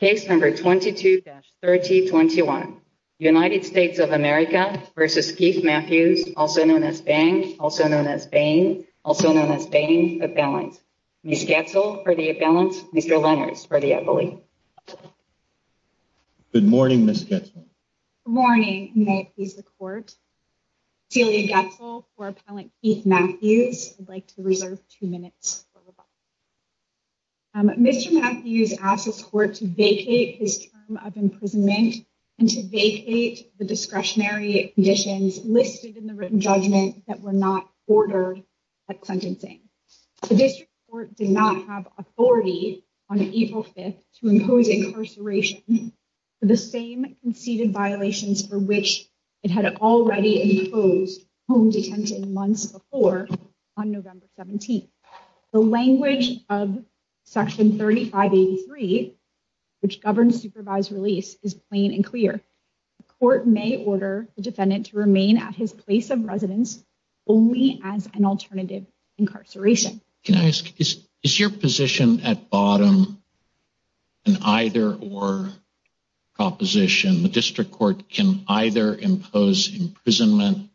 case number 22-3021 United States of America v Keith Matthews also known as Bain, also known as Bain, also known as Bain Appellant. Ms. Goetzel for the Appellant, Mr. Lenners for the Appellant. Good morning Ms. Goetzel. Good morning, may it please the court. Celia Goetzel for Appellant Keith Matthews. I'd like to reserve two minutes. Mr. Matthews asked his court to vacate his term of imprisonment and to vacate the discretionary conditions listed in the written judgment that were not ordered at sentencing. The district court did not have authority on April 5th to impose incarceration for the same conceded violations for which it had already imposed home detention months before on November 17th. The language of section 3583 which governs supervised release is plain and clear. The court may order the defendant to remain at his place of residence only as an alternative incarceration. Can I ask, is your position at bottom an either-or proposition? The district court can either impose imprisonment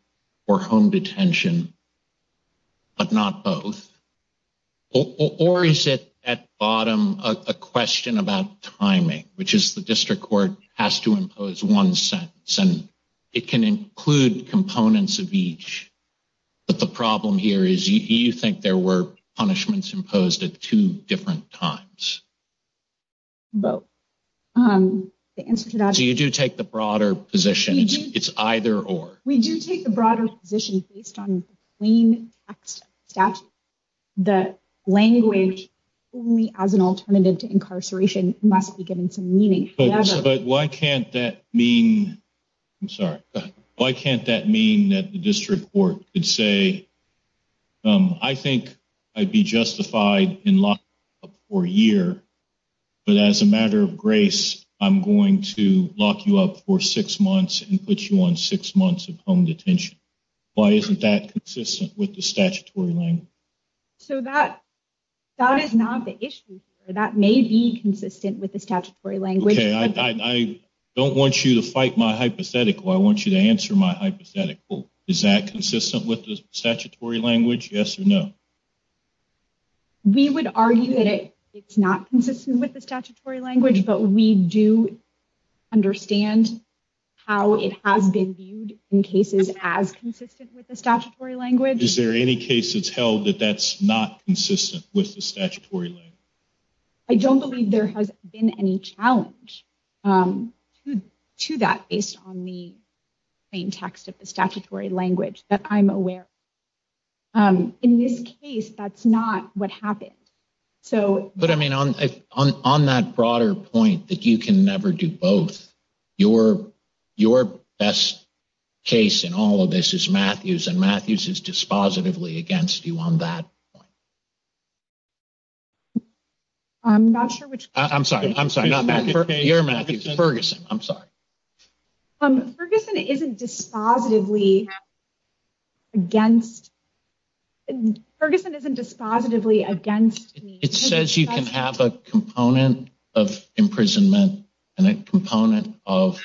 or home detention, but not both. Or is it at bottom a question about timing, which is the district court has to impose one sentence and it can include components of each, but the problem here is you think there were punishments imposed at two different times. So you do take the broader position it's either-or? We do take the broader position based on the plain text statute. The language only as an alternative to incarceration must be given some meaning. But why can't that mean, I'm sorry, why can't that mean that the district court could say I think I'd be justified in lock-up for a year, but as a matter of grace I'm going to lock you up for six months and put you on six months of home detention. Why isn't that consistent with the statutory language? So that is not the issue. That may be consistent with the statutory language. Okay, I don't want you to fight my hypothetical, I want you to answer my hypothetical. Is that consistent with the statutory language, yes or no? We would argue that it's not consistent with the statutory language, but we do understand how it has been viewed in cases as consistent with the statutory language. Is there any case that's held that that's not consistent with the statutory language? I don't believe there has been any challenge to that based on the plain text of the statutory language, but I'm aware. In this case that's not what happened. But I mean on that broader point that you can never do both, your best case in all of this is Matthews and Matthews is dispositively against you on that point. I'm sorry, I'm sorry, you're Matthews, Ferguson, I'm sorry. Ferguson isn't dispositively against, Ferguson isn't dispositively against me. It says you can have a component of imprisonment and a component of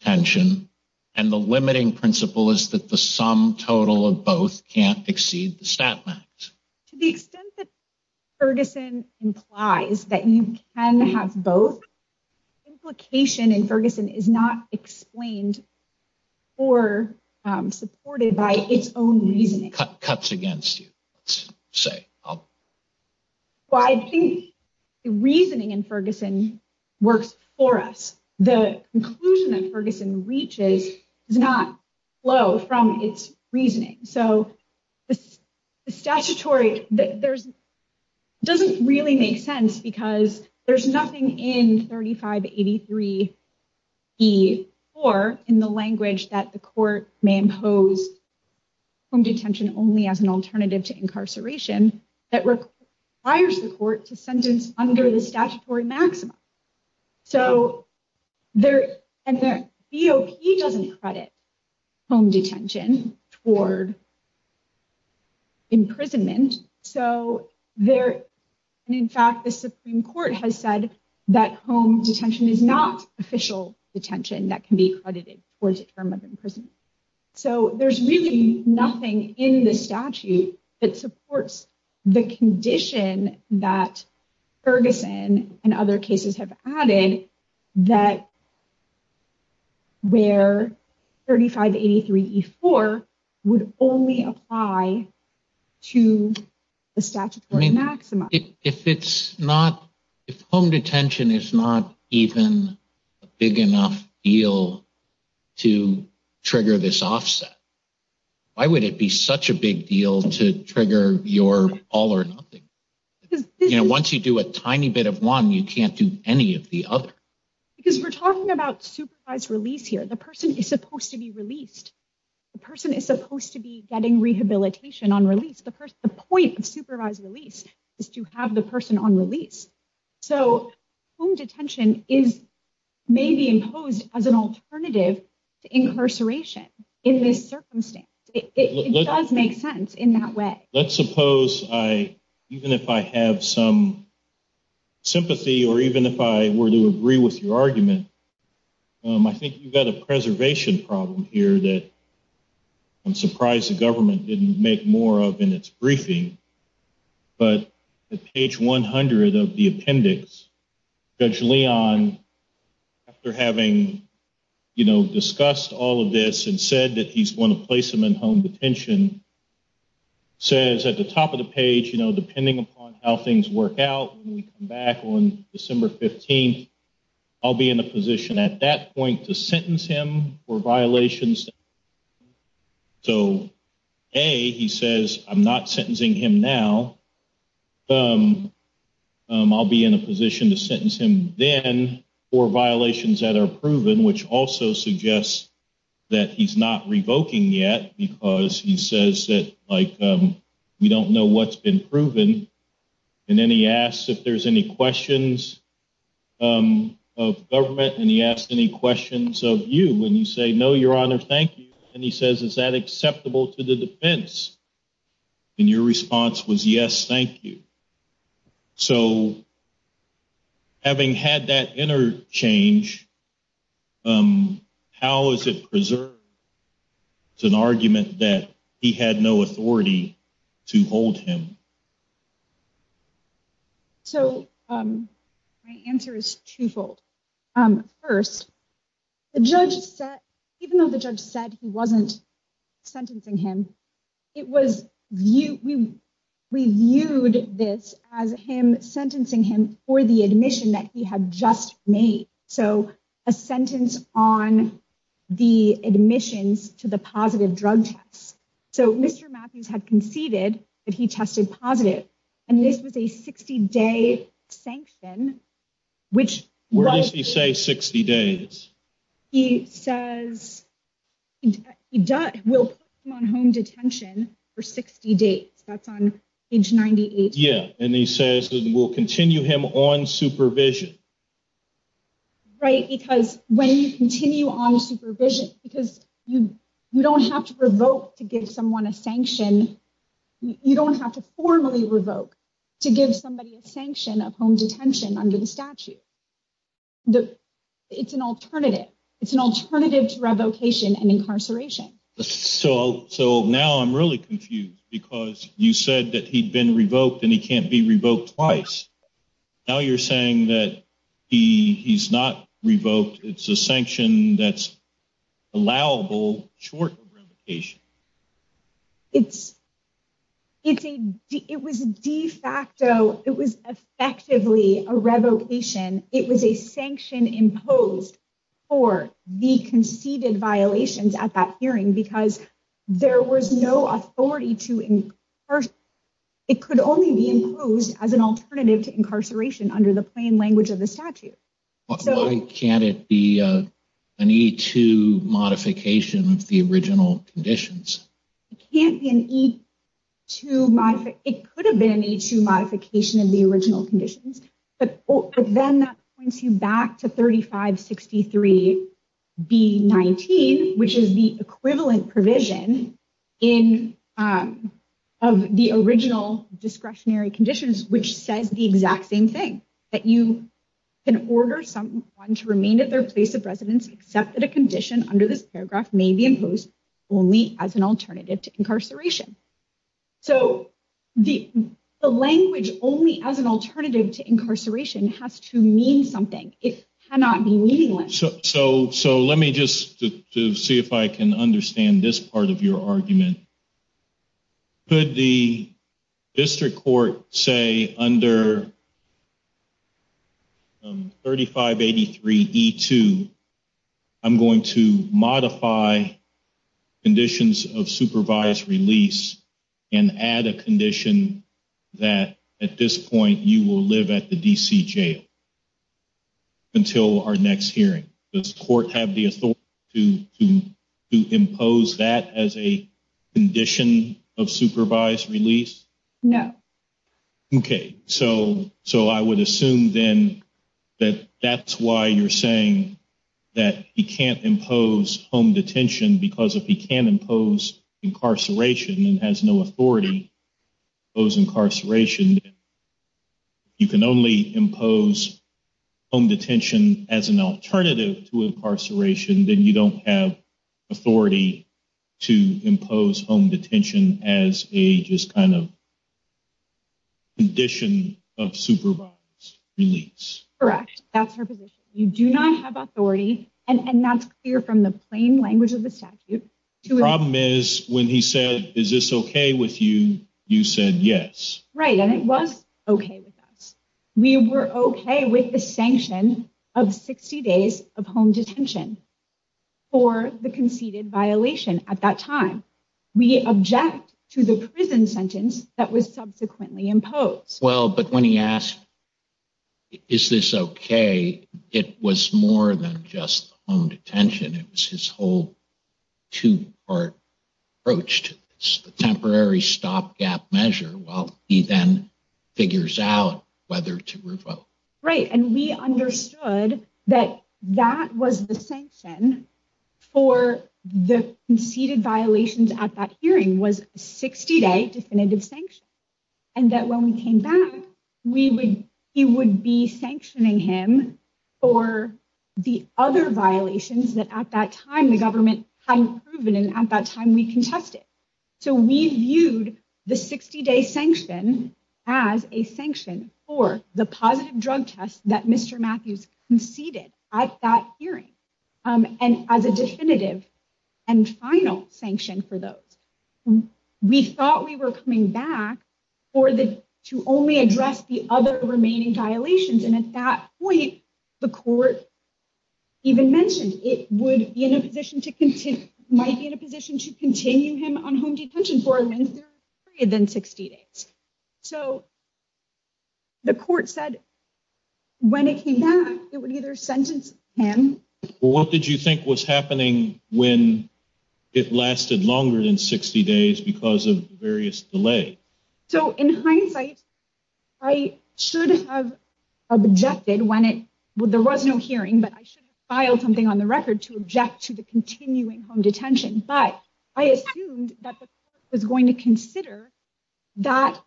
tension and the limiting principle is that the sum total of both can't exceed the stat max. To the extent that Ferguson implies that you can have both, implication in Ferguson is not explained or supported by its own reasoning. Cuts against you, let's say. Well, I think the reasoning in Ferguson works for us. The conclusion that Ferguson reaches does not flow from its reasoning. So the statutory, there's, doesn't really make sense because there's nothing in 3583E4 in the language that the court may impose home detention only as an alternative to incarceration that requires the court to sentence under the statutory maximum. So there, and the BOP doesn't credit home detention toward imprisonment. So there, and in fact, the Supreme Court has said that home detention is not official detention that can be credited towards a term of imprisonment. So there's really nothing in the statute that supports the condition that Ferguson and other cases have added that where 3583E4 would only apply to the statutory maximum. If it's not, if home detention is not even a big enough deal to trigger this offset, why would it be such a big deal to trigger your all or nothing? Once you do a tiny bit of one, you can't do any of the other. Because we're talking about supervised release here. The person is supposed to be released. The person is supposed to be getting rehabilitation on release. The point of supervised release is to have the person on release. So home detention is maybe imposed as an alternative to incarceration in this circumstance. It does make sense in that way. Let's suppose I, even if I have some sympathy or even if I were to agree with your argument, I think you've got a preservation problem here that I'm surprised the government didn't make more of in its briefing. But at page 100 of the appendix, Judge Leon, after having, you know, discussed all of this and said that he's going to place him in home detention, says at the top of the page, you know, depending upon how things work out when we come back on December 15th, I'll be in a position at that point to sentence him for violations. So A, he says, I'm not sentencing him now. I'll be in a position to sentence him then for violations that are proven, which also suggests that he's not revoking yet because he says that, like, we don't know what's been proven. And then he asks if there's any questions of government and he asks any questions of you. And you say, no, your honor, thank you. And he says, is that acceptable to the defense? And your response was, yes, thank you. So having had that interchange, how is it preserved? It's an argument that he had no authority to hold him. So my answer is twofold. First, the judge said, even though the judge said he wasn't sentencing him, it was, we viewed this as him sentencing him for the admission that he had just made. So a sentence on the admissions to the positive drug tests. So Mr. Matthews had conceded that he tested positive and this was a 60-day sanction, which- Where does he say 60 days? He says, we'll put him on home detention for 60 days. That's on page 98. Yeah. And he says, we'll continue him on supervision. Right. Because when you continue on supervision, because you don't have to revoke to give someone a sanction, you don't have to formally revoke to give somebody a sanction of home detention under the statute. It's an alternative. It's an alternative to revocation and incarceration. So now I'm really confused because you said that he'd been revoked and he can't be revoked twice. Now you're saying that he's not revoked. It's a sanction that's allowable short of revocation. It's a, it was de facto, it was effectively a revocation. It was a sanction imposed for the conceded violations at that hearing because there was no authority to, it could only be imposed as an alternative to incarceration under the plain language of the statute. Why can't it be an E2 modification of the original conditions? It can't be an E2, it could have been an E2 modification of the original conditions, but then that points you back to 3563B19, which is the equivalent provision of the original discretionary conditions, which says the exact same thing, that you can order someone to remain at their place of residence, except that a condition under this paragraph may be imposed only as an alternative to incarceration. So the language, only as an alternative to incarceration, has to mean something. It cannot be meaningless. So let me just see if I can understand this part of your argument. Could the district court say under 3583E2, I'm going to modify conditions of supervised release and add a condition that at this point you will live at the DC jail until our next hearing. Does court have the authority to impose that as a condition of supervised release? No. Okay, so I would assume then that that's why you're saying that he can't impose home detention, because if he can't impose incarceration and has no authority to impose incarceration, you can only impose home detention as an alternative to incarceration, then you don't have authority to impose home detention as a just kind of condition of supervised release. Correct. That's her position. You do not have authority, and that's clear from the plain language of the statute. The problem is when he said, is this okay with you, you said yes. Right, and it was okay with us. We were okay with the sanction of 60 days of home detention. For the conceded violation at that time, we object to the prison sentence that was subsequently imposed. Well, but when he asked, is this okay, it was more than just home detention. It was his whole two-part approach to this, the temporary stopgap measure while he then figures out whether to revoke. Right, and we understood that that was the sanction for the conceded violations at that hearing was a 60-day definitive sanction, and that when we came back, he would be sanctioning him for the other violations that at that time the government hadn't proven, and at that time we contested. So we viewed the 60-day sanction as a sanction for the positive drug test that Mr. Matthews conceded at that hearing and as a definitive and final sanction for those. We thought we were coming back to only address the other remaining violations, and at that point, the court even mentioned it would be in a position might be in a position to continue him on home detention for a period than 60 days. So the court said when it came back, it would either sentence him. What did you think was happening when it lasted longer than 60 days because of various delay? So in hindsight, I should have objected when there was no hearing, but I should have filed something on the record to object to the continuing home detention, but I assumed that the court was going to consider that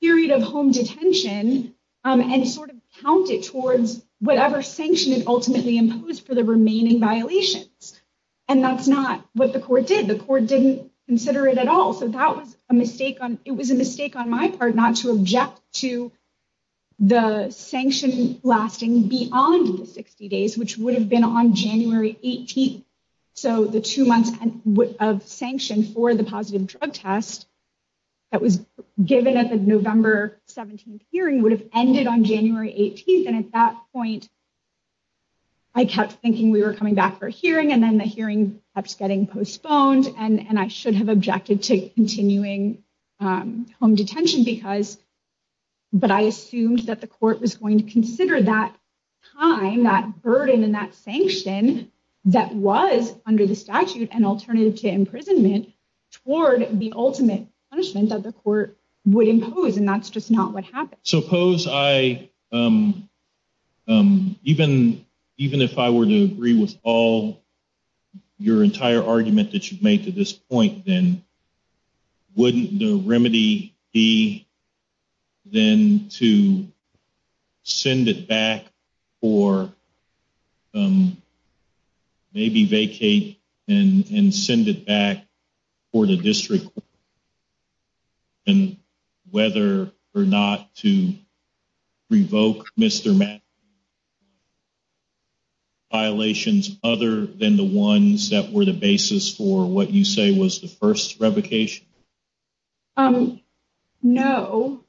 period of home detention and sort of count it towards whatever sanction it ultimately imposed for the remaining violations, and that's not what the court did. The court didn't consider it at all, so that was a mistake on my part not to object to the sanction lasting beyond the 60 days, which would have been on January 18th, so the two months of sanction for the positive drug test that was given at the November 17th hearing would have ended on January 18th, and at that point, I kept thinking we were coming back for a hearing, and then the hearing kept getting postponed, and I should have objected to continuing home detention, but I assumed that the court was going to consider that time, that burden, and that sanction that was under the statute an alternative to imprisonment toward the ultimate punishment that the court would impose, and that's just not what happened. Suppose I, even if I were to agree with all your entire argument that you've made to this point, then wouldn't the remedy be then to send it back or maybe vacate and send it back for the district, and whether or not to revoke Mr. Mack's conviction? Violations other than the ones that were the basis for what you say was the first revocation? No,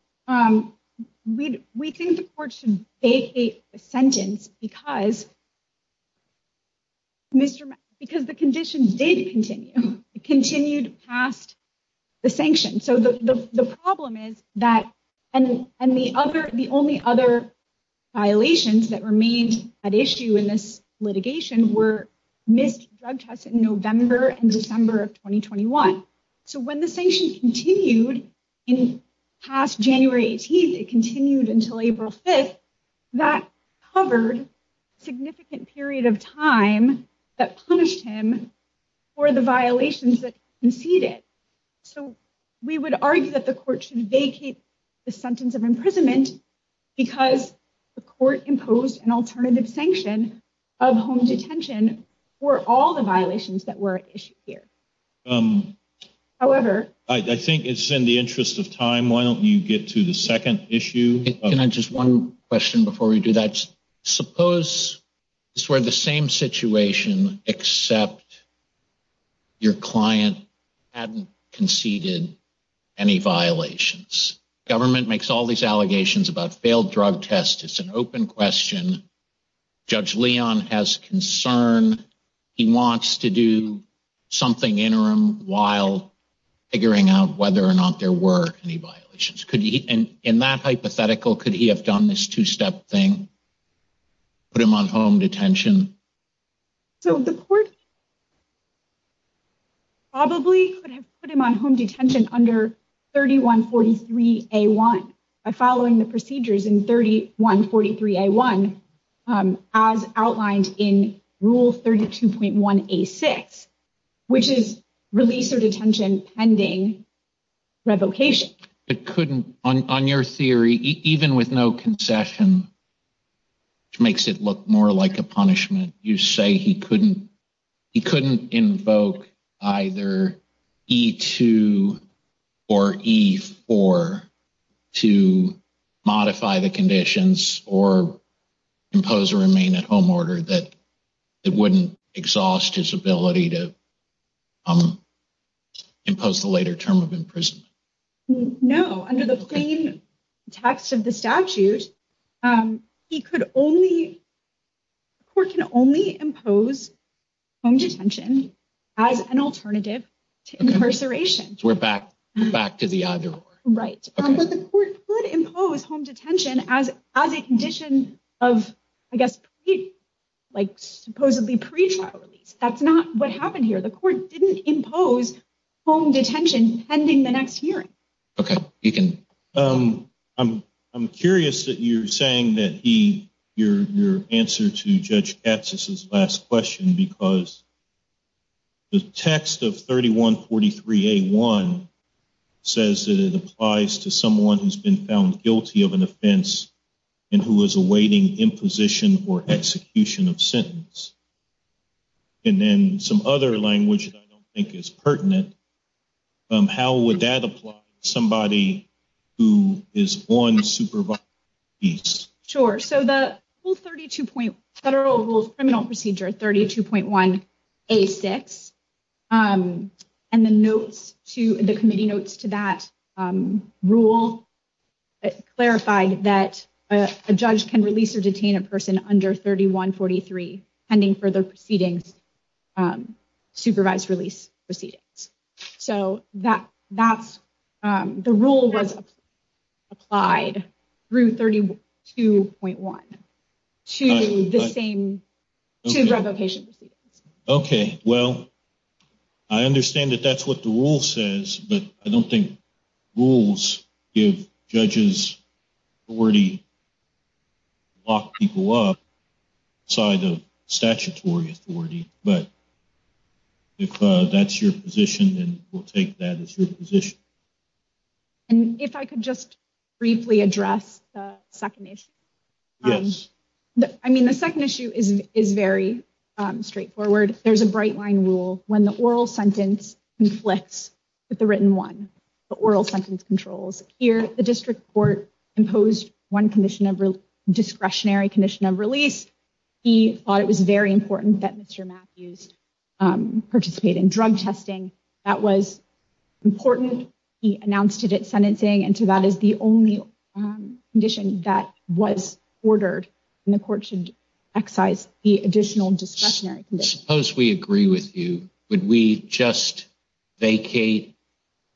we think the court should vacate the sentence because Mr. Mack, because the condition did continue, it continued past the sanction, so the problem is that, and the other, the only other violations that remained at issue in this litigation were missed drug tests in November and December of 2021, so when the sanction continued in past January 18th, it continued until April 5th, that covered a significant period of time that punished him for the violations that conceded. So we would argue that the court should vacate the sentence of imprisonment because the court imposed an alternative sanction of home detention for all the violations that were issued here. However, I think it's in the interest of time, why don't you get to the second issue? Can I just one question before we do that? Suppose this were the same situation except your client hadn't conceded any violations. Government makes all these allegations about failed drug tests. It's an open question. Judge Leon has concern. He wants to do something interim while figuring out whether or not there were any violations. In that hypothetical, could he have done this two-step thing? Put him on home detention? So the court probably could have put him on home detention under 3143A1 by following the procedures in 3143A1 as outlined in Rule 32.1A6, which is release or detention pending revocation. It couldn't, on your theory, even with no concession, which makes it look more like a punishment, you say he couldn't invoke either E2 or E4 to modify the conditions or impose a remain-at-home order that wouldn't exhaust his ability to impose the later term of imprisonment. No. Under the plain text of the statute, he could only, the court can only impose home detention as an alternative to incarceration. We're back to the either or. Right. But the court could impose home detention as a condition of, I guess, supposedly pretrial release. That's not what happened here. The court didn't impose home detention pending the next hearing. Okay. I'm curious that you're saying that your answer to Judge Katsas' last question, because the text of 3143A1 says that it applies to someone who's been found guilty of an offense and who is awaiting imposition or execution of sentence. And then some other language that I don't think is pertinent, how would that apply to somebody who is on supervised release? Sure. So, the Federal Rules Criminal Procedure 32.1A6, and the committee notes to that rule clarified that a judge can release or detain a person under 3143 pending further proceedings, supervised release proceedings. So, the rule was applied through 32.1 to revocation proceedings. Okay. Well, I understand that that's what the rule says, but I don't think rules give judges authority to lock people up outside of statutory authority. But if that's your position, then we'll take that as your position. And if I could just briefly address the second issue. Yes. I mean, the second issue is very straightforward. There's a bright line rule when the oral sentence conflicts with the written one, the oral sentence controls. Here, the district court imposed one discretionary condition of release. He thought it was very important that Mr. Matthews participate in drug testing. That was important. He announced it at sentencing, and so that is the only condition that was ordered, and the court should excise the additional discretionary condition. Suppose we agree with you. Would we just vacate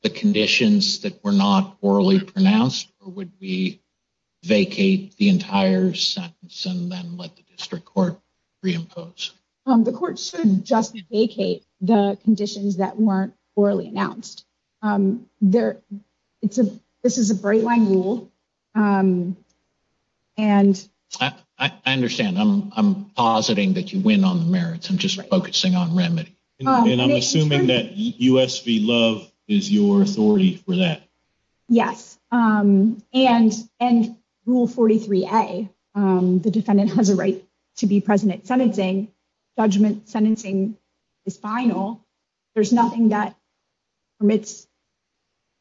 the conditions that were not orally pronounced? Or would we vacate the entire sentence and then let the district court reimpose? The court should just vacate the conditions that weren't orally announced. This is a bright line rule. And I understand. I'm positing that you win on the merits. I'm just focusing on remedy. And I'm assuming that U.S. v. Love is your authority for that. Yes. And rule 43A, the defendant has a right to be present at sentencing. Judgment sentencing is final. There's nothing that permits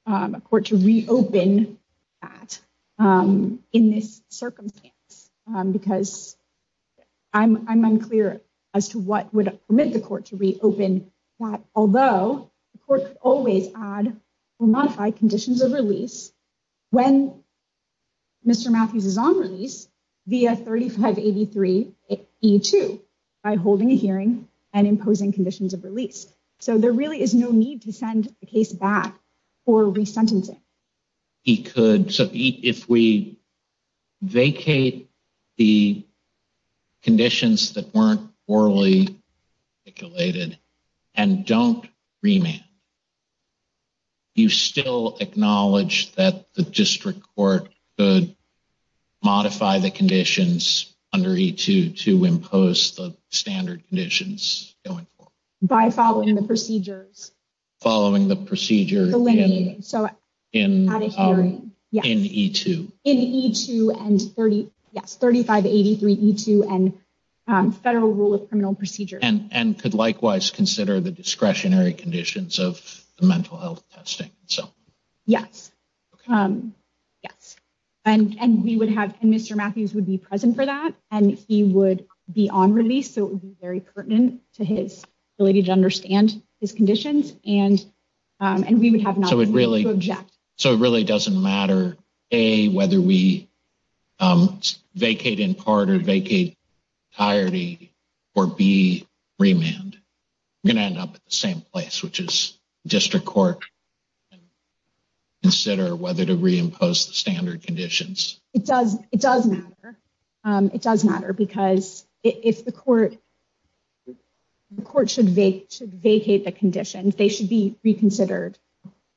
a court to reopen that in this circumstance, because I'm unclear as to what would permit the court to reopen that, although the court always add or modify conditions of release when Mr. Matthews is on release via 3583E2 by holding a hearing and imposing conditions of release. So there really is no need to send the case back for resentencing. He could. So if we vacate the conditions that weren't orally articulated and don't remand, you still acknowledge that the district court could modify the conditions under E2 to impose the standard conditions going forward? By following the procedures. Following the procedure in E2. In E2 and 3583E2 and Federal Rule of Criminal Procedure. And could likewise consider the discretionary conditions of the mental health testing. Yes. Yes. And we would have Mr. Matthews would be present for that and he would be on release, it would be very pertinent to his ability to understand his conditions and we would have not to object. So it really doesn't matter, A, whether we vacate in part or vacate entirety or B, remand. We're going to end up at the same place, which is district court. Consider whether to reimpose the standard conditions. It does. It does matter. It does matter. The court should vacate the conditions. They should be reconsidered.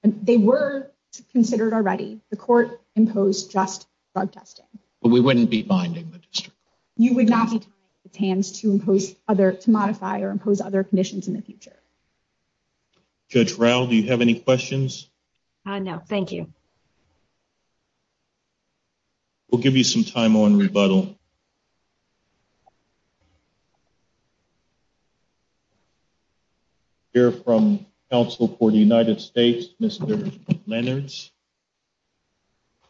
They were considered already. The court imposed just drug testing. But we wouldn't be binding the district. You would not be taking its hands to modify or impose other conditions in the future. Judge Rao, do you have any questions? No, thank you. We'll give you some time on rebuttal. We'll hear from counsel for the United States, Mr. Lennards.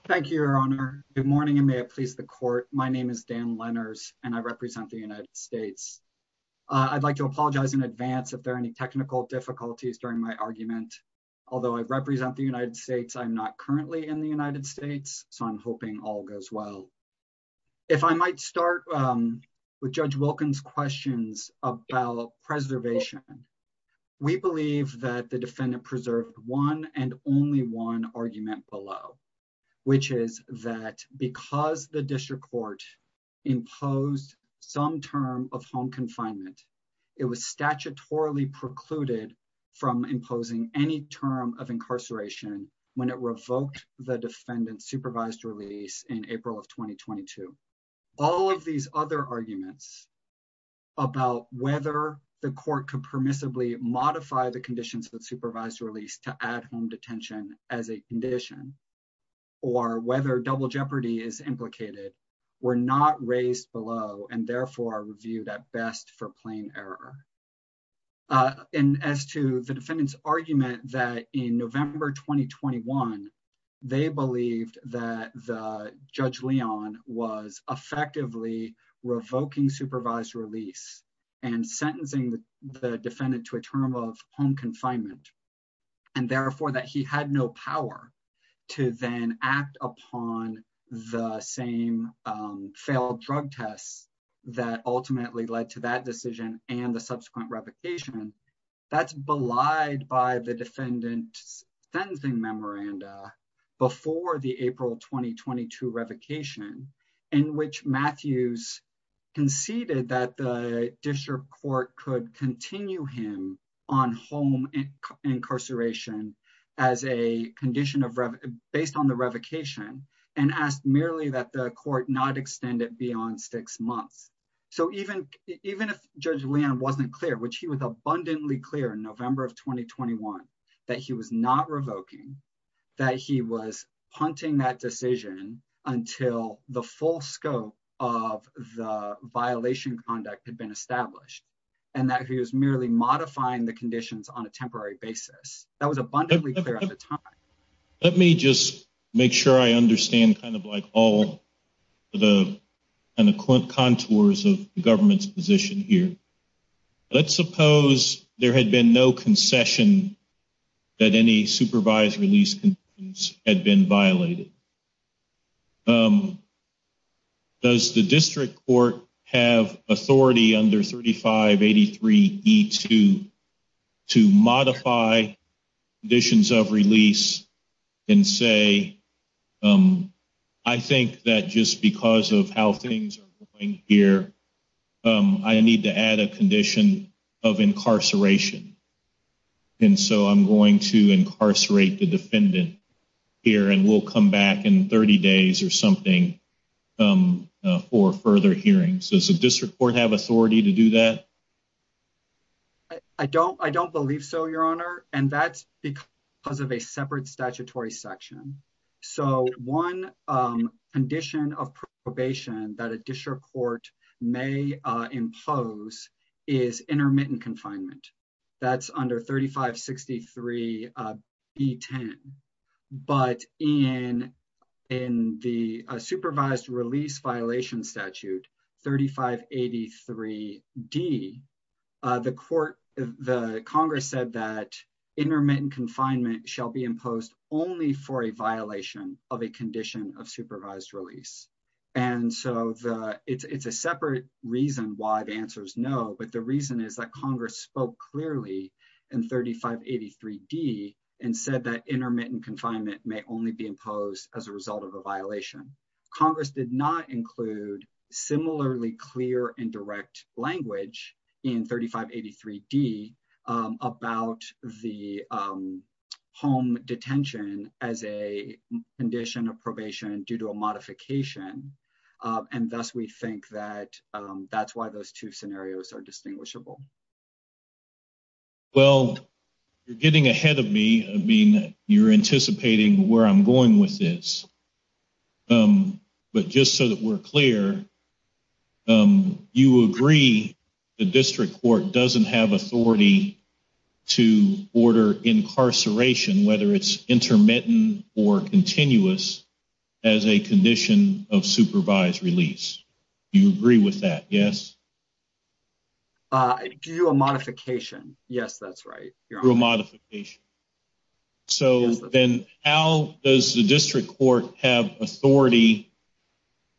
Thank you, Your Honor. Good morning and may it please the court. My name is Dan Lennards and I represent the United States. I'd like to apologize in advance if there are any technical difficulties during my argument. Although I represent the United States, I'm not currently in the United States, so I'm hoping all goes well. If I might start with Judge Wilkins' questions about preservation, we believe that the defendant preserved one and only one argument below, which is that because the district court imposed some term of home confinement, it was statutorily precluded from imposing any term of incarceration when it revoked the defendant's supervised release in April of 2022. All of these other arguments about whether the court could permissibly modify the conditions of the supervised release to add home detention as a condition or whether double jeopardy is implicated were not raised below and therefore reviewed at best for plain error. As to the defendant's argument that in November 2021, they believed that Judge Leon was effectively revoking supervised release and sentencing the defendant to a term of home confinement and therefore that he had no power to then act upon the same failed drug tests that ultimately led to that decision and the subsequent revocation, that's belied by the defendant's sentencing memoranda before the April 2022 revocation in which Matthews conceded that the district court could continue him on home incarceration as a condition based on the revocation and asked merely that the court not extend it beyond six months. So even if Judge Leon wasn't clear, which he was abundantly clear in November of 2021, that he was not revoking, that he was punting that decision until the full scope of the violation conduct had been established and that he was merely modifying the conditions on a time. Let me just make sure I understand kind of like all the kind of contours of the government's position here. Let's suppose there had been no concession that any supervised release had been violated. Does the district court have authority under 3583E2 to modify conditions of release and say, I think that just because of how things are going here, I need to add a condition of incarceration. And so I'm going to incarcerate the defendant here and we'll come back in 30 days or something for further hearings. Does the district court have authority to do that? I don't believe so, your honor, and that's because of a separate statutory section. So one condition of probation that a district court may impose is intermittent confinement. That's under 3563B10. But in the supervised release violation statute 3583D, the Congress said that intermittent confinement shall be imposed only for a violation of a condition of supervised release. And so it's a separate reason why the answer is no. But the reason is that Congress spoke clearly in 3583D and said that intermittent confinement may only be imposed as a result of a violation. Congress did not include similarly clear and direct language in 3583D about the home detention as a condition of probation due to a modification. And thus we think that that's why those two scenarios are distinguishable. Well, you're getting ahead of me. I mean, you're anticipating where I'm going with this. But just so that we're clear, you agree the district court doesn't have authority to order incarceration, whether it's intermittent or continuous, as a condition of supervised release. You agree with that, yes? Due a modification. Yes, that's right. Due a modification. So then how does the district court have authority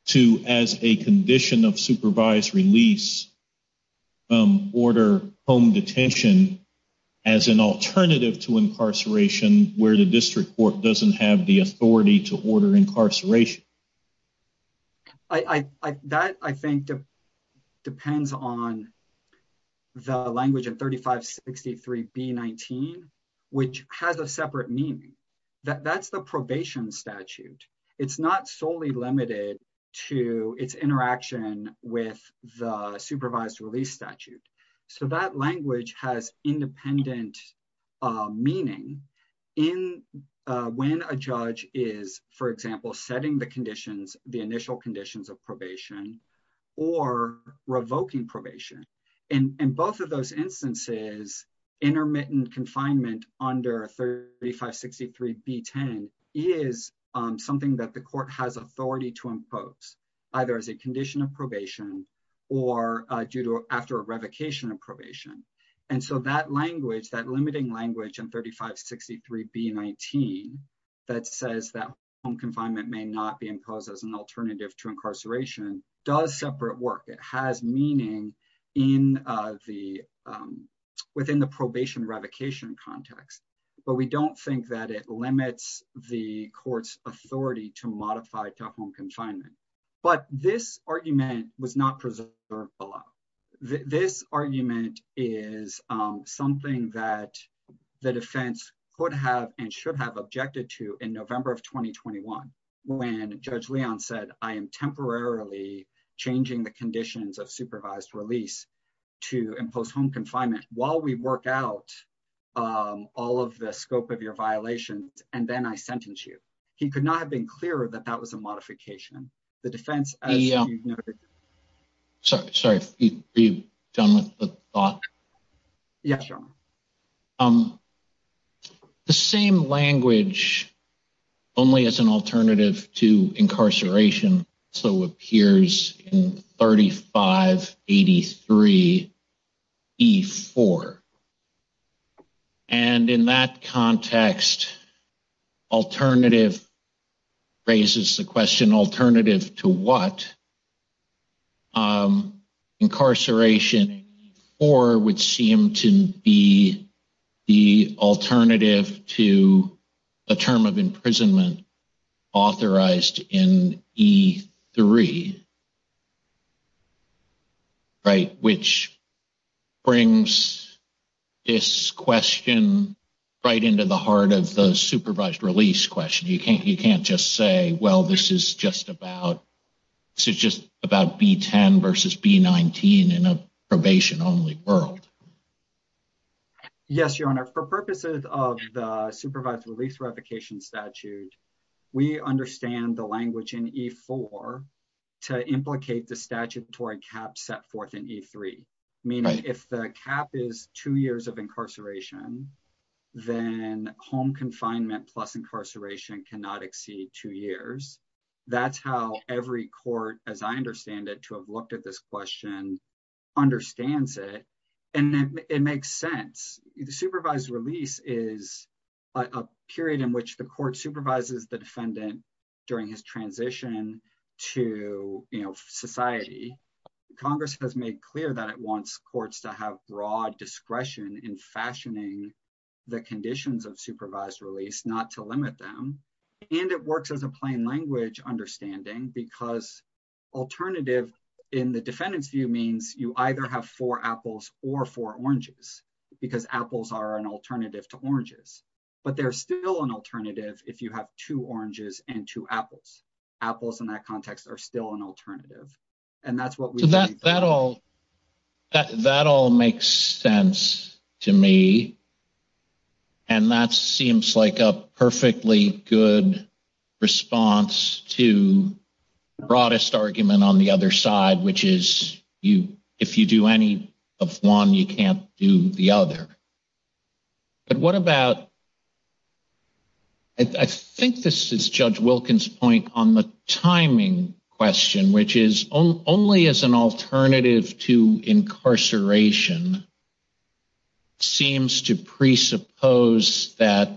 to, as a condition of supervised release, order home detention as an alternative to incarceration where the district court doesn't have the authority to order incarceration? That, I think, depends on the language of 3563B-19, which has a separate meaning. That's the probation statute. It's not solely limited to its interaction with the supervised release statute. So that language has independent meaning when a judge is, for example, setting the initial conditions of probation or revoking probation. In both of those instances, intermittent confinement under 3563B-10 is something that the court has authority to impose, either as a condition of probation or after a revocation of probation. And so that language, that limiting language in 3563B-19 that says that home confinement may not be imposed as an alternative to incarceration does separate work. It has meaning within the probation revocation context, but we don't think that it limits the court's authority to modify home confinement. But this argument was not preserved below. This argument is something that the defense could have and should have objected to in November of 2021, when Judge Leon said, I am temporarily changing the conditions of supervised release to impose home confinement while we work out all of the scope of your violations, and then I sentence you. He could have been clearer that that was a modification. The defense, as you've noted. Sorry, are you done with the thought? Yes, Your Honor. The same language, only as an alternative to incarceration, so appears in 3583B-4. And in that context, alternative raises the question, alternative to what? Incarceration in 3584B-4 would seem to be the alternative to a term of imprisonment authorized in E-3, right? Which brings this question right into the heart of the supervised release question. You can't just say, well, this is just about B-10 versus B-19 in a probation-only world. Yes, Your Honor, for purposes of the supervised release revocation statute, we understand the language in E-4 to implicate the statutory cap set forth in E-3. Meaning, if the cap is two years of incarceration, then home confinement plus incarceration cannot exceed two years. That's how every court, as I understand it, to have looked at this question, understands it. And it makes sense. Supervised release is a period in which the court supervises the defendant during his transition to society. Congress has made clear that it wants courts to have broad discretion in fashioning the conditions of supervised release, not to limit them. And it works as a plain language understanding, because alternative, in the you either have four apples or four oranges, because apples are an alternative to oranges. But they're still an alternative if you have two oranges and two apples. Apples, in that context, are still an alternative. And that's what we- So that all makes sense to me. And that seems like a perfectly good response to the broadest argument on the other side, which is, if you do any of one, you can't do the other. But what about- I think this is Judge Wilkins' point on the timing question, which is, only as an alternative to incarceration seems to presuppose that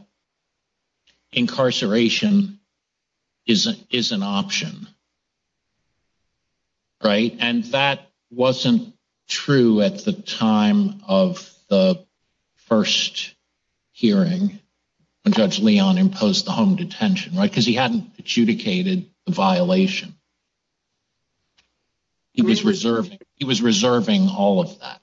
incarceration is an option. And that wasn't true at the time of the first hearing when Judge Leon imposed the home detention, because he hadn't adjudicated the violation. He was reserving all of that.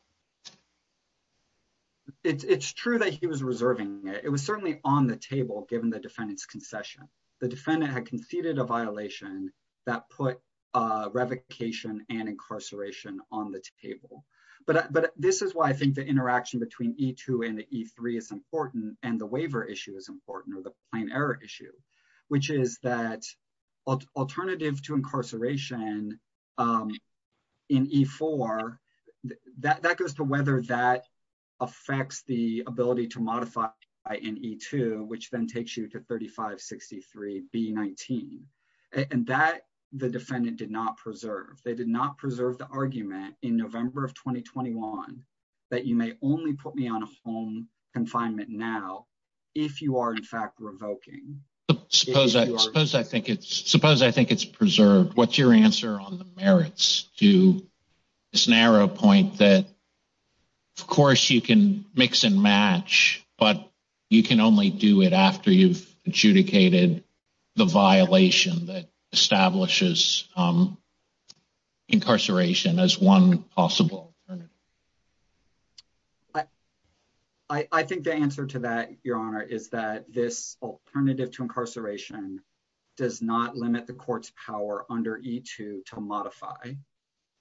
It's true that he was reserving it. It was certainly on the table, given the defendant's concession. The defendant had conceded a violation that put revocation and incarceration on the table. But this is why I think the interaction between E2 and E3 is important, and the waiver issue is important, or the plain error issue, which is that alternative to incarceration in E4, that goes to whether that affects the ability to modify in E2, which then takes you to 3563B19. And that the defendant did not preserve. They did not preserve the argument in November of 2021 that you may only put me on home confinement now if you are, in fact, revoking. Suppose I think it's preserved. What's your merits to this narrow point that, of course, you can mix and match, but you can only do it after you've adjudicated the violation that establishes incarceration as one possible? I think the answer to that, Your Honor, is that this alternative to incarceration does not limit the court's power under E2 to modify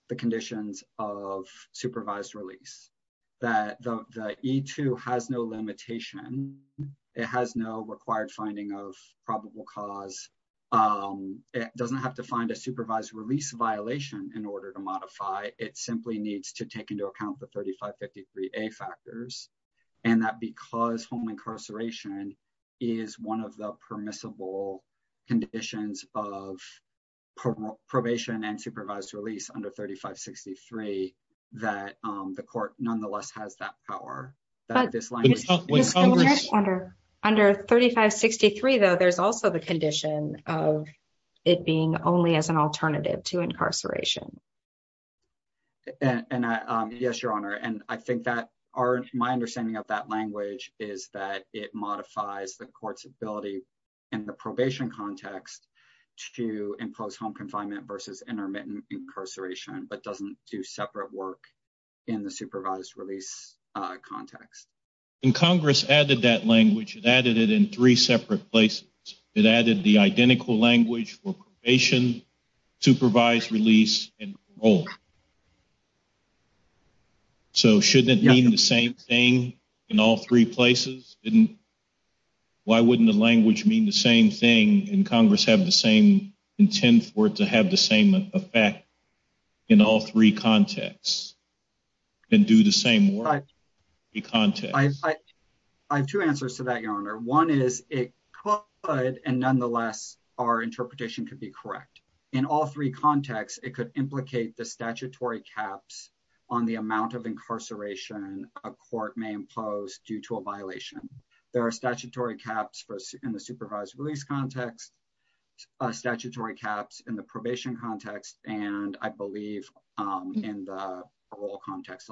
the conditions of supervised release. That the E2 has no limitation. It has no required finding of probable cause. It doesn't have to find a supervised release violation in order to modify. It simply needs to take into account the 3553A factors. And that because home incarceration is one of the permissible conditions of probation and supervised release under 3563, that the court nonetheless has that power. Under 3563, though, there's also the condition of it being only as an alternative to incarceration. And, yes, Your Honor, and I think that my understanding of that language is that it modifies the court's ability in the probation context to impose home confinement versus intermittent incarceration, but doesn't do separate work in the supervised release context. And Congress added that language. It added it in three separate places. It added the identical language for probation, supervised release, and parole. So shouldn't it mean the same thing in all three places? Why wouldn't the language mean the same thing and Congress have the same intent for it to have the same effect in all three contexts and do the same work in context? I have two answers to that, Your Honor. One is it could, and nonetheless, our interpretation could be correct. In all three contexts, it could implicate the statutory caps on the amount of incarceration a court may impose due to a violation. There are statutory caps in the supervised release context, statutory caps in the probation context, and I believe in the parole context,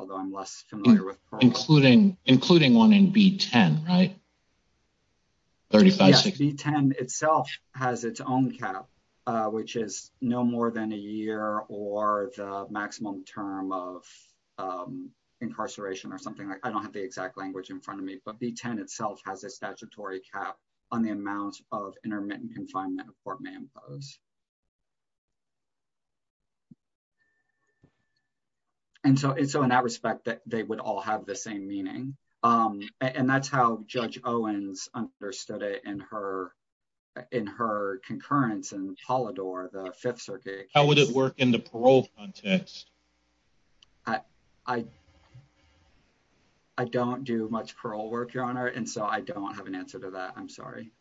including one in B-10, right? Yes, B-10 itself has its own cap, which is no more than a year or the maximum term of incarceration or something. I don't have the exact language in front of me, but B-10 itself has a statutory cap on the amount of intermittent confinement a court may impose. And so, in that respect, they would all have the same meaning, and that's how Judge Owens understood it in her concurrence in Polidor, the Fifth Circuit. How would it work in the parole context? I don't do much parole work, Your Honor, and so I don't have an answer to that. I'm sorry.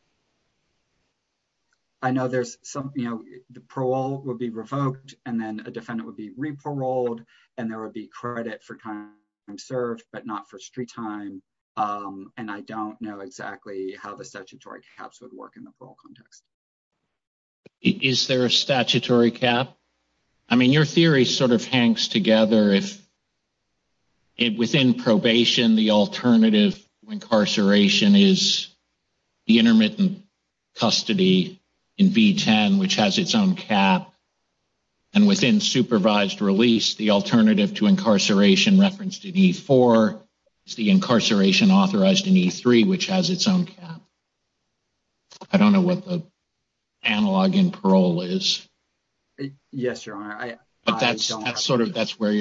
I know there's some, you know, the parole would be revoked and then a defendant would be re-paroled and there would be credit for time served, but not for street time, and I don't know exactly how the statutory caps would work in the parole context. Is there a statutory cap? I mean, your theory sort of hangs together if within probation, the alternative to incarceration is the intermittent custody in B-10, which has its own cap, and within supervised release, the alternative to incarceration referenced in E-4 is the incarceration authorized in E-3, which has its own cap. I don't know what the analog in parole is. Yes, Your Honor, I don't. That's where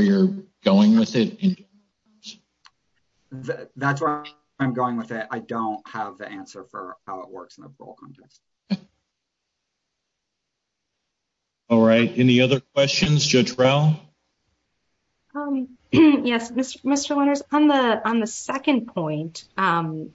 you're going with it? That's where I'm going with it. I don't have the answer for how it works in the parole context. All right. Any other questions, Judge Rowell? Yes, Mr. Winters, on the second point,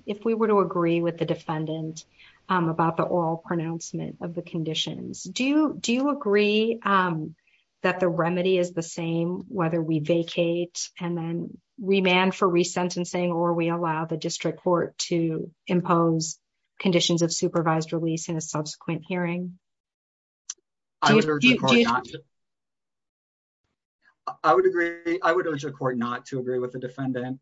if we were to agree with the defendant about the oral pronouncement of the conditions, do you agree that the remedy is the same, whether we vacate and then remand for resentencing, or we allow the district court to impose conditions of supervised release in a subsequent hearing? I would urge the court not to agree with the defendant.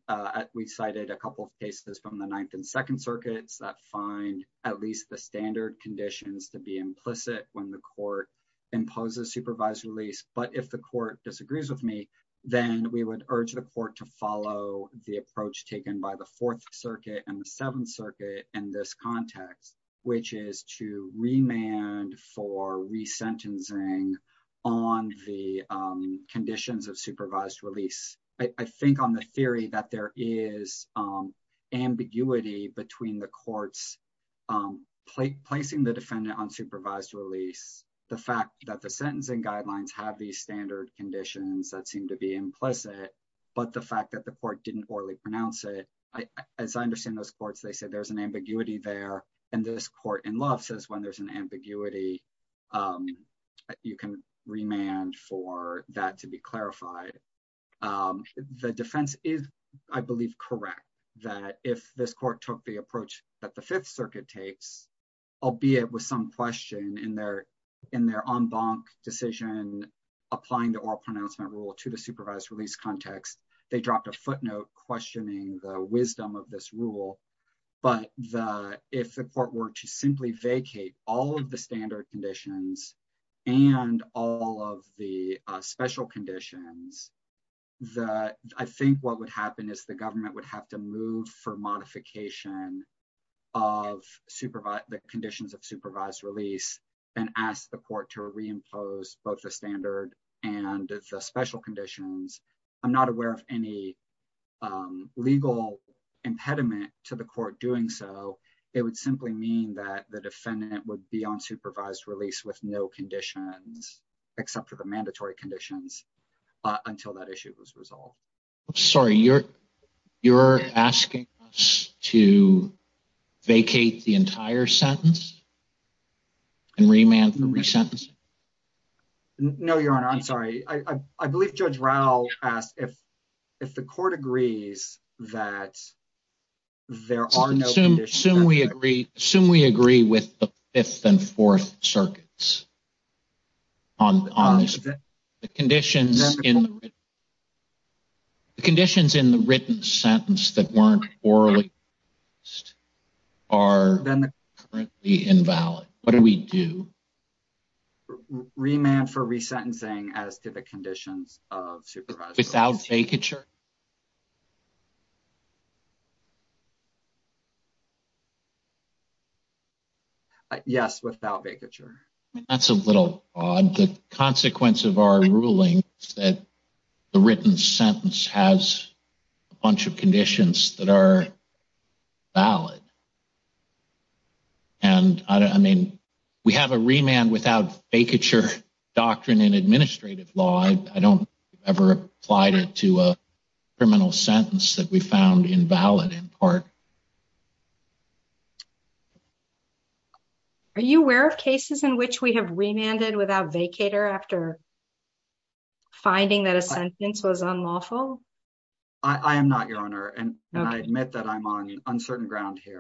We've cited a couple of cases from Ninth and Second Circuits that find at least the standard conditions to be implicit when the court imposes supervised release, but if the court disagrees with me, then we would urge the court to follow the approach taken by the Fourth Circuit and the Seventh Circuit in this context, which is to remand for resentencing on the conditions of supervised release. I think on theory that there is ambiguity between the courts placing the defendant on supervised release, the fact that the sentencing guidelines have these standard conditions that seem to be implicit, but the fact that the court didn't orally pronounce it. As I understand those courts, they said there's an ambiguity there, and this court in Luff says when there's an ambiguity, you can remand for that to be clarified. The defense is, I believe, correct that if this court took the approach that the Fifth Circuit takes, albeit with some question in their en banc decision applying the oral pronouncement rule to the supervised release context, they dropped a footnote questioning the wisdom of this rule, but if the court were to simply vacate all of the standard conditions and all of the special conditions, I think what would happen is the government would have to move for modification of the conditions of supervised release and ask the court to reimpose both the standard and the special conditions. I'm not aware of any legal impediment to the court doing so. It would simply mean that the defendant would be on supervised release with no conditions except for the mandatory conditions until that issue was resolved. I'm sorry, you're asking us to vacate the entire sentence and remand for resentencing? No, Your Honor, I'm sorry. I believe Judge Raul asked if the court agrees that there are no conditions. Assume we agree with the Fifth and Fourth Circuits on this. The conditions in the written sentence that weren't orally pronounced are currently invalid. What do we do? Remand for resentencing as to the conditions of supervised release. Without vacature? Yes, without vacature. That's a little odd. The consequence of our ruling is that the written sentence has a bunch of conditions that are valid. We have a remand without vacature doctrine in administrative law. I don't ever applied it to a criminal sentence that we found invalid in part. Are you aware of cases in which we have remanded without vacator after finding that a sentence was unlawful? I am not, Your Honor, and I admit that I'm on the case.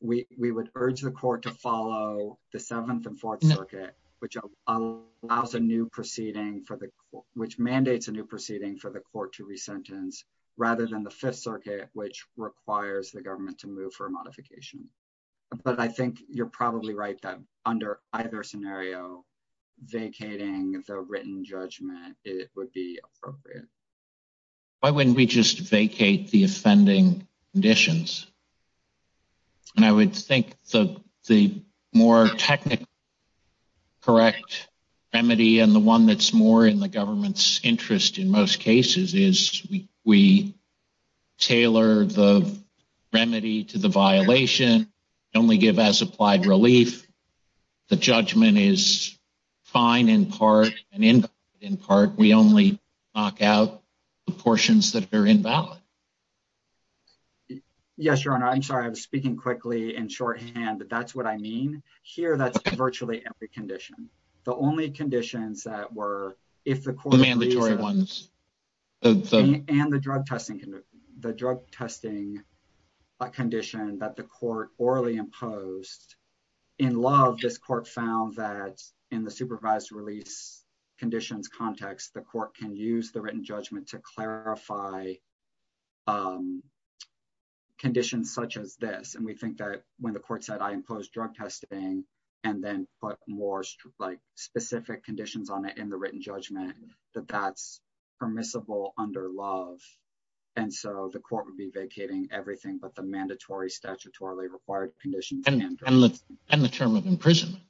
We would urge the court to follow the Seventh and Fourth Circuit, which mandates a new proceeding for the court to resentence, rather than the Fifth Circuit, which requires the government to move for a modification. But I think you're probably right that under either scenario, vacating the written judgment would be appropriate. Why wouldn't we just vacate the offending conditions? And I would think the more technically correct remedy, and the one that's more in the government's interest in most cases, is we tailor the remedy to the violation, only give as applied relief. The judgment is fine in part, and invalid in part. We only knock out the portions that are invalid. Yes, Your Honor. I'm sorry. I was speaking quickly in shorthand, but that's what I mean. Here, that's virtually every condition. The only conditions that were, if the court— The mandatory ones. And the drug testing condition that the court orally imposed. In Love, this court found that in the supervised release conditions context, the court can use the written judgment to clarify conditions such as this. And we think that when the court said, I impose drug testing, and then put more specific conditions on it in the written judgment, that that's permissible under Love. And so the court would be vacating everything but the mandatory, statutorily required conditions. And the term of imprisonment.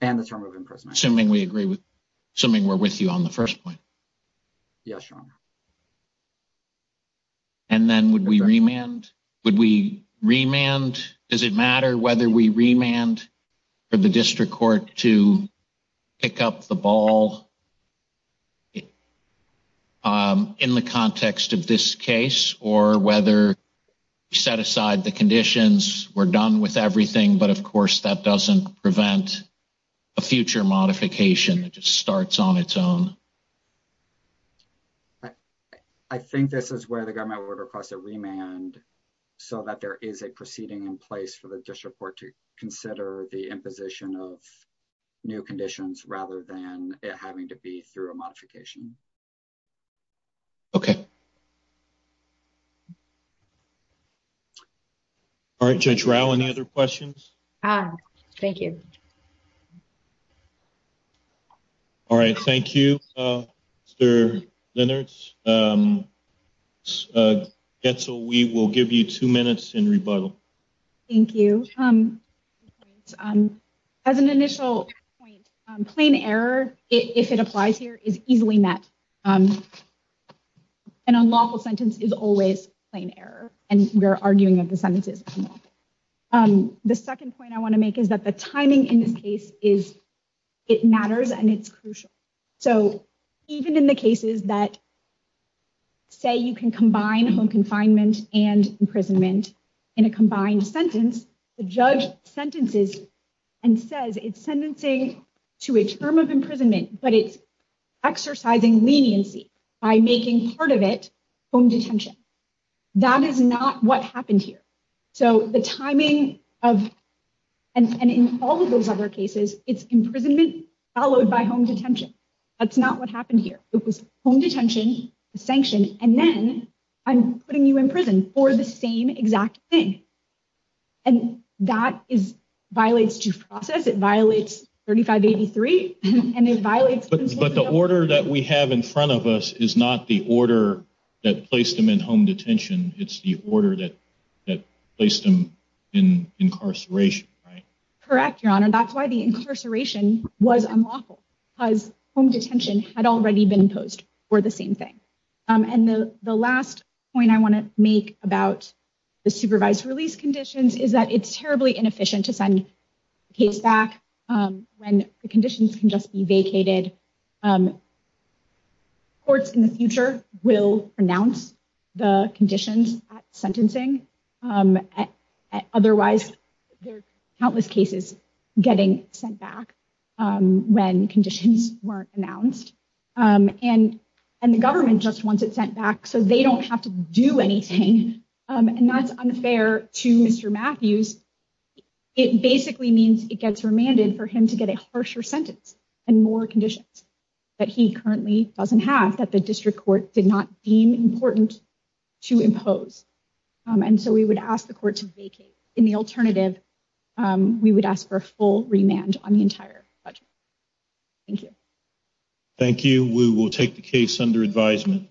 And the term of imprisonment. Assuming we agree with—assuming we're with you on the first point. Yes, Your Honor. And then would we remand? Would we remand? Does it matter whether we remand for the district court to pick up the ball in the context of this case, or whether we set aside the conditions, we're done with everything, but of course that doesn't prevent a future modification that just starts on its own. I think this is where the government would request a remand so that there is a proceeding in place for the district court to consider the imposition of new conditions rather than it having to be through a modification. Okay. All right, Judge Rau, any other questions? Thank you. All right, thank you, Mr. Lennertz. Getzel, we will give you two minutes in rebuttal. Thank you. As an initial point, plain error, if it applies here, is easily met. An unlawful sentence is always plain error, and we're arguing that the sentence is unlawful. The second point I want to make is that the timing in this case, it matters and it's crucial. So even in the cases that say you can combine home confinement and imprisonment in a combined sentence, the judge sentences and says it's sentencing to a term of imprisonment, but it's exercising leniency by making part of it home detention. That is not what happened here. So the timing of, and in all of those other cases, it's imprisonment followed by home detention. That's not what happened here. It was home detention, a sanction, and then I'm putting you in prison for the same exact thing. And that violates due process, it violates 3583, and it violates- But the order that we have in front of us is not the order that placed them in home detention. It's the order that placed them in incarceration, right? Correct, Your Honor. That's why the incarceration was unlawful, because home detention had already been imposed for the same thing. And the last point I want to make about the supervised release conditions is that it's terribly inefficient to send a case back when the conditions can just be vacated. Courts in the future will renounce the conditions at sentencing, otherwise there are countless cases getting sent back when conditions weren't announced, and the government just wants it sent back so they don't have to do anything, and that's unfair to Mr. Matthews. It basically means it gets remanded for him to get a harsher sentence and more conditions that he currently doesn't have that the district court did not deem important to impose. And so we would ask the court to vacate. In the alternative, we would ask for a full remand on the entire budget. Thank you. Thank you. We will take the case under advisement.